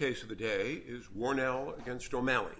is Warnell v. O'Malley.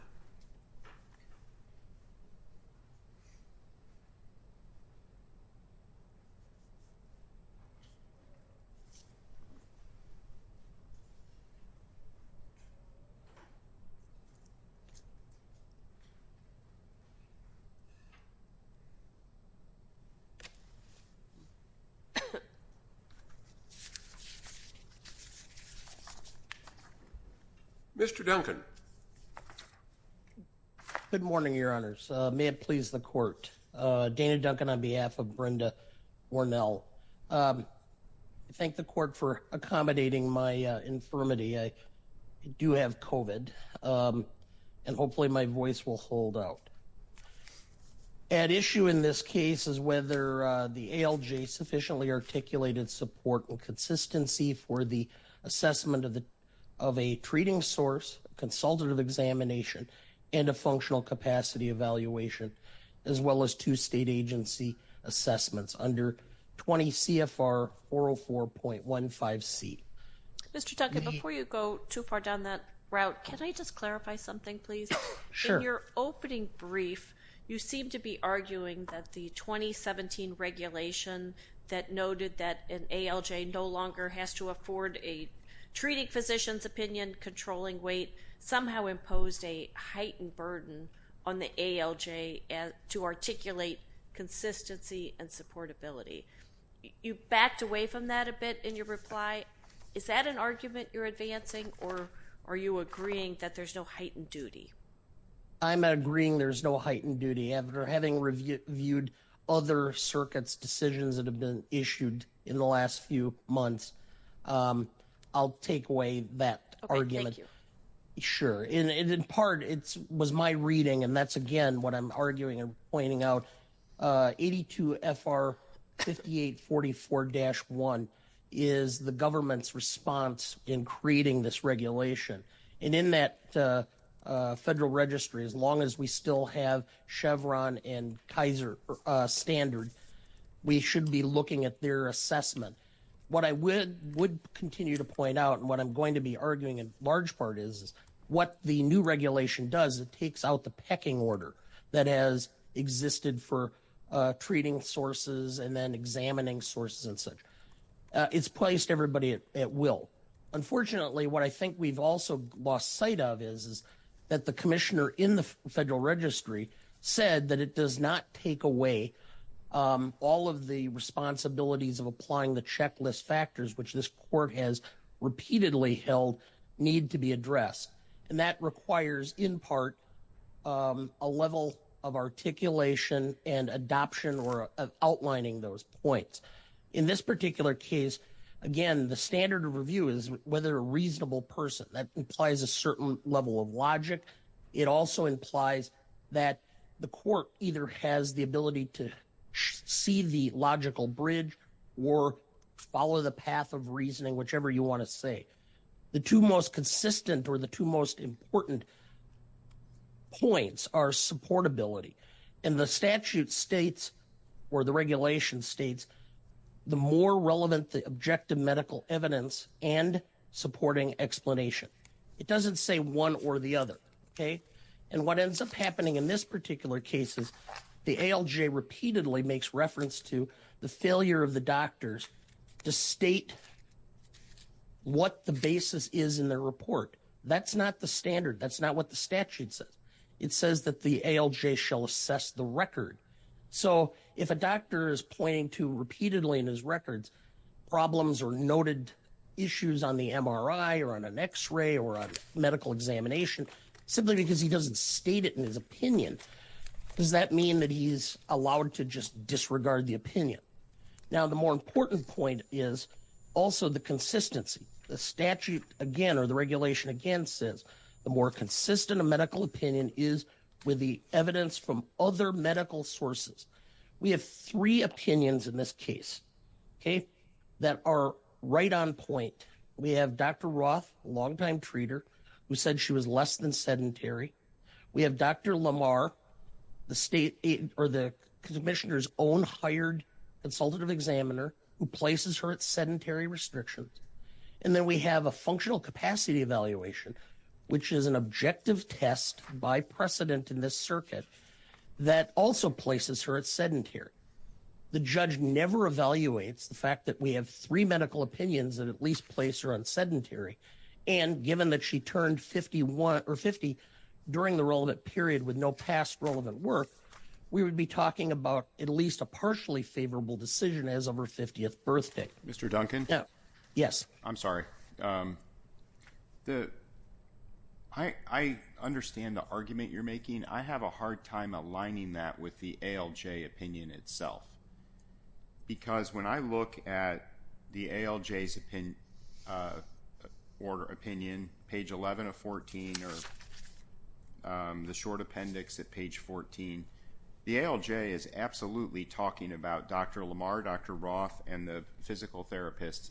Mr. Duncan. Good morning, your honors. May it please the court. Dana Duncan on behalf of Brenda Warnell. I thank the court for accommodating my infirmity. I do have COVID and hopefully my voice will hold out. At issue in this case is whether the ALJ sufficiently articulated support and consistency for the assessment of a treating source, a consultative examination, and a functional capacity evaluation, as well as two state agency assessments under 20 CFR 404.15C. Mr. Duncan, before you go too far down that route, can I just clarify something, please? Sure. In your opening brief, you seem to be arguing that the 2017 regulation that noted that an ALJ no longer has to afford a treating physician's opinion, controlling weight, somehow imposed a heightened burden on the ALJ to articulate consistency and supportability. You backed away from that a bit in your reply. Is that an argument you're advancing, or are you agreeing that there's no heightened duty? I'm agreeing there's no heightened duty. After having reviewed other circuits' decisions that have been issued in the last few months, I'll take away that argument. Okay. Thank you. Thank you, Mr. Chairman. As long as we still have Chevron and Kaiser Standard, we should be looking at their assessment. What I would continue to point out, and what I'm going to be arguing in large part is, is what the new regulation does, it takes out the pecking order that has existed for treating sources and then examining sources and such. It's placed everybody at will. Unfortunately, what I think we've also lost sight of is that the commissioner in the Federal Registry said that it does not take away all of the responsibilities of applying the checklist factors, which this court has repeatedly held need to be addressed. And that requires, in part, a level of articulation and adoption or outlining those points. In this particular case, again, the standard of review is whether a reasonable person. That implies a certain level of logic. It also implies that the court either has the ability to see the logical bridge or follow the path of reasoning, whichever you want to say. The two most consistent or the two most important points are supportability. And the statute states, or the regulation states, the more relevant the objective medical evidence and supporting explanation. It doesn't say one or the other. And what ends up happening in this particular case is the ALJ repeatedly makes reference to the failure of the doctors to state what the basis is in their report. That's not the standard. That's not what the statute says. It says that the ALJ shall assess the record. So if a doctor is pointing to repeatedly in his records problems or noted issues on the MRI or on an X-ray or medical examination, simply because he doesn't state it in his opinion, does that mean that he's allowed to just disregard the opinion? Now, the more important point is also the consistency. The statute, again, or the regulation, again, says the more consistent a medical opinion is with the evidence from other medical sources. We have three opinions in this case that are right on point. We have Dr. Roth, a longtime treater, who said she was less than sedentary. We have Dr. Lamar, the state or the commissioner's own hired consultative examiner, who places her at sedentary restrictions. And then we have a functional capacity evaluation, which is an objective test by precedent in this circuit that also places her at sedentary. The judge never evaluates the fact that we have three medical opinions that at least place her on sedentary. And given that she turned 50 during the relevant period with no past relevant work, we would be talking about at least a partially favorable decision as of her 50th birthday. Mr. Duncan? Yes. I'm sorry. I understand the argument you're making. I have a hard time aligning that with the ALJ opinion itself. Because when I look at the ALJ's opinion, page 11 of 14, or the short appendix at page 14, the ALJ is absolutely talking about Dr. Lamar, Dr. Roth, and the physical therapists.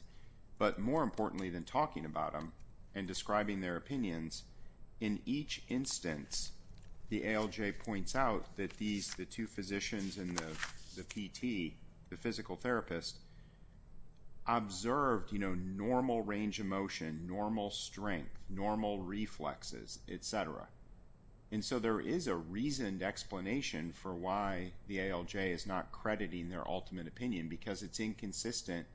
But more importantly than talking about them and describing their opinions, in each instance, the ALJ points out that the two physicians and the PT, the physical therapist, observed normal range of motion, normal strength, normal reflexes, etc. And so there is a reasoned explanation for why the ALJ is not crediting their ultimate opinion. Because it's inconsistent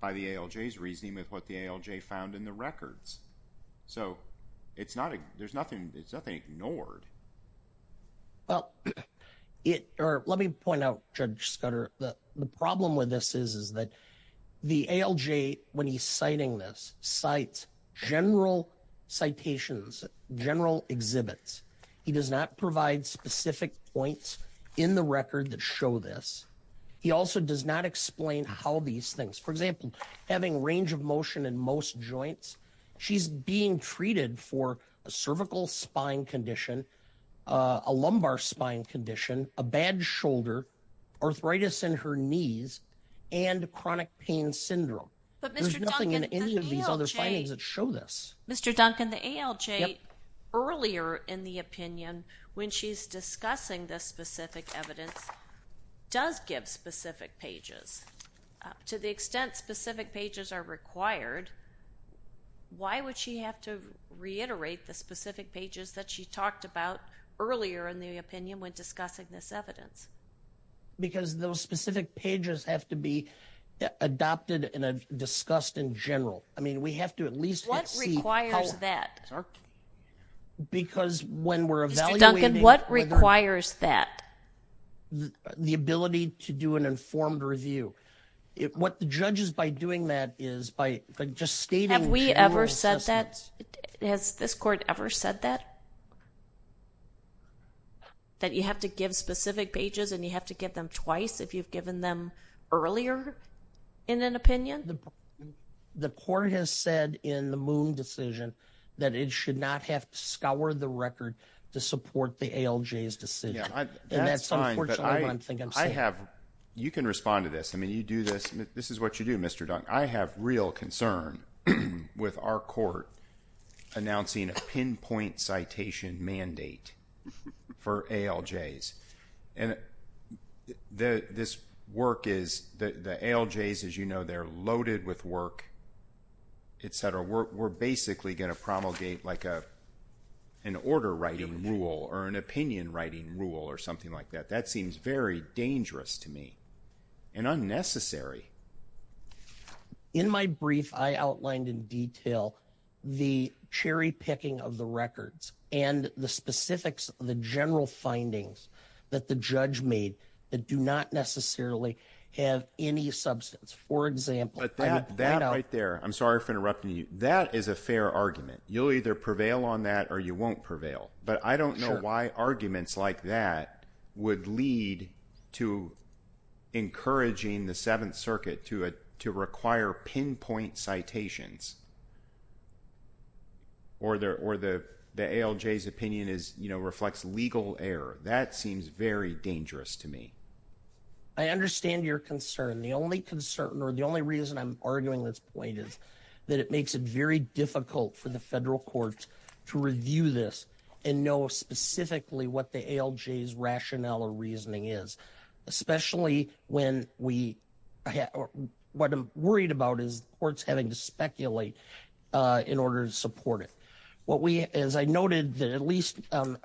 by the ALJ's reasoning with what the ALJ found in the records. So it's nothing ignored. Well, let me point out, Judge Scudder, the problem with this is that the ALJ, when he's citing this, cites general citations, general exhibits. He does not provide specific points in the record that show this. He also does not explain how these things. For example, having range of motion in most joints, she's being treated for a cervical spine condition, a lumbar spine condition, a bad shoulder, arthritis in her knees, and chronic pain syndrome. There's nothing in any of these other findings that show this. Mr. Duncan, the ALJ, earlier in the opinion, when she's discussing this specific evidence, does give specific pages. To the extent specific pages are required, why would she have to reiterate the specific pages that she talked about earlier in the opinion when discussing this evidence? Because those specific pages have to be adopted and discussed in general. What requires that? Mr. Duncan, what requires that? The ability to do an informed review. What the judge is by doing that is by just stating general assessments. Have we ever said that? Has this court ever said that? That you have to give specific pages and you have to give them twice if you've given them earlier in an opinion? The court has said in the Moon decision that it should not have to scour the record to support the ALJ's decision. And that's unfortunately what I think I'm saying. You can respond to this. I mean, you do this. This is what you do, Mr. Duncan. I have real concern with our court announcing a pinpoint citation mandate for ALJs. And this work is, the ALJs, as you know, they're loaded with work, etc. We're basically going to promulgate like an order writing rule or an opinion writing rule or something like that. That seems very dangerous to me and unnecessary. In my brief, I outlined in detail the cherry picking of the records and the specifics of the general findings that the judge made that do not necessarily have any substance. For example. That right there. I'm sorry for interrupting you. That is a fair argument. You'll either prevail on that or you won't prevail. But I don't know why arguments like that would lead to encouraging the Seventh Circuit to require pinpoint citations. Or the ALJ's opinion reflects legal error. That seems very dangerous to me. I understand your concern. The only concern or the only reason I'm arguing this point is that it makes it very difficult for the federal courts to review this and know specifically what the ALJ's rationale or reasoning is. Especially when we, what I'm worried about is courts having to speculate in order to support it. As I noted that at least on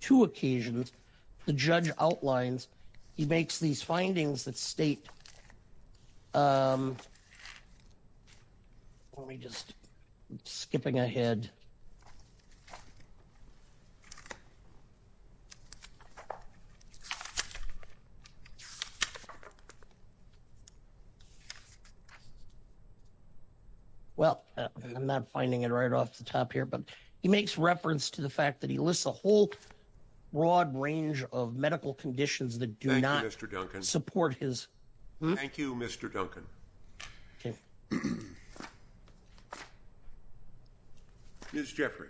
two occasions, the judge outlines, he makes these findings that state. Let me just, I'm skipping ahead. Well, I'm not finding it right off the top here, but he makes reference to the fact that he lists a whole broad range of medical conditions that do not support his. Thank you, Mr. Duncan. Okay. Ms. Jeffrey.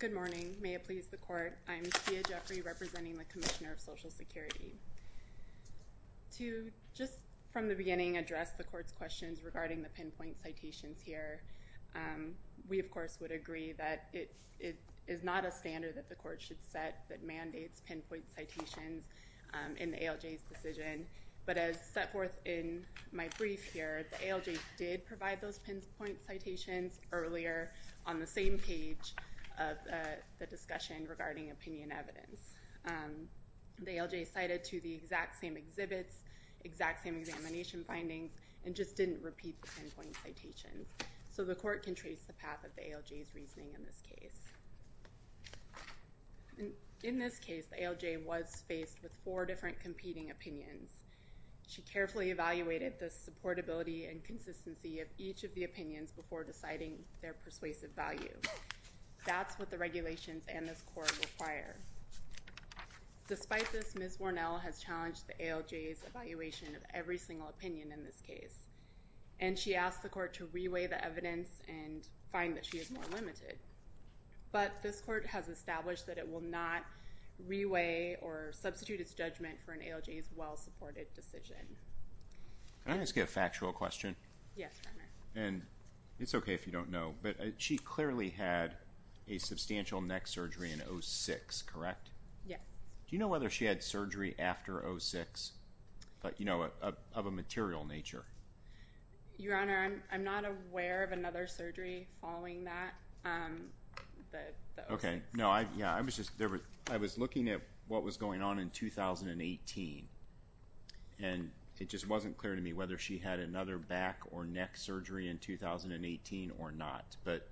Good morning. May it please the court. I'm Tia Jeffrey representing the Commissioner of Social Security. To just from the beginning address the court's questions regarding the pinpoint citations here. We, of course, would agree that it is not a standard that the court should set that mandates pinpoint citations in the ALJ's decision. But as set forth in my brief here, the ALJ did provide those pinpoint citations earlier on the same page of the discussion regarding opinion evidence. The ALJ cited to the exact same exhibits, exact same examination findings, and just didn't repeat the pinpoint citations. So the court can trace the path of the ALJ's reasoning in this case. In this case, the ALJ was faced with four different competing opinions. She carefully evaluated the supportability and consistency of each of the opinions before deciding their persuasive value. That's what the regulations and this court require. Despite this, Ms. Warnell has challenged the ALJ's evaluation of every single opinion in this case. And she asked the court to reweigh the evidence and find that she is more limited. But this court has established that it will not reweigh or substitute its judgment for an ALJ's well-supported decision. Can I ask you a factual question? Yes, partner. And it's okay if you don't know, but she clearly had a substantial neck surgery in 06, correct? Yes. Do you know whether she had surgery after 06? But, you know, of a material nature. Your Honor, I'm not aware of another surgery following that. Okay. No, I was just looking at what was going on in 2018. And it just wasn't clear to me whether she had another back or neck surgery in 2018 or not. But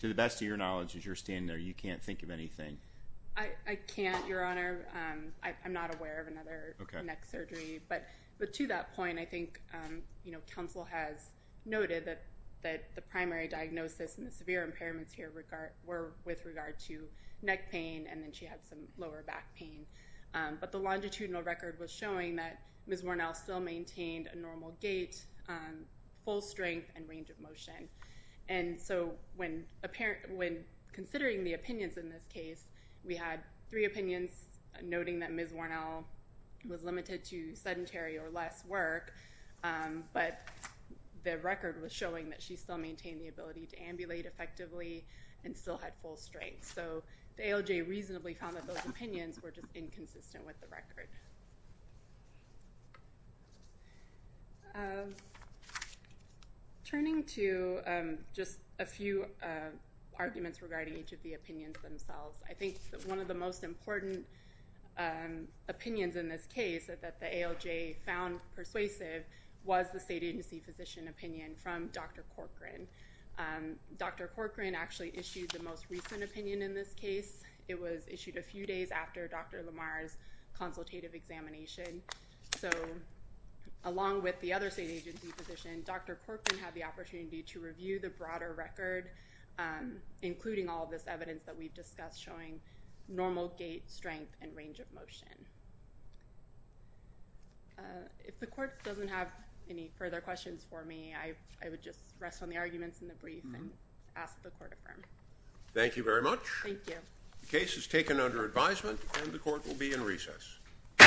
to the best of your knowledge, as you're standing there, you can't think of anything. I can't, Your Honor. I'm not aware of another neck surgery. But to that point, I think, you know, counsel has noted that the primary diagnosis and the severe impairments here were with regard to neck pain and then she had some lower back pain. But the longitudinal record was showing that Ms. Warnell still maintained a normal gait, full strength, and range of motion. And so when considering the opinions in this case, we had three opinions noting that Ms. Warnell was limited to sedentary or less work. But the record was showing that she still maintained the ability to ambulate effectively and still had full strength. So the ALJ reasonably found that those opinions were just inconsistent with the record. Turning to just a few arguments regarding each of the opinions themselves. I think one of the most important opinions in this case that the ALJ found persuasive was the state agency physician opinion from Dr. Corcoran. Dr. Corcoran actually issued the most recent opinion in this case. It was issued a few days after Dr. Lamar's consultative examination. So along with the other state agency physician, Dr. Corcoran had the opportunity to review the broader record, including all this evidence that we've discussed showing normal gait, strength, and range of motion. If the court doesn't have any further questions for me, I would just rest on the arguments in the brief and ask the court to affirm. Thank you very much. The case is taken under advisement and the court will be in recess.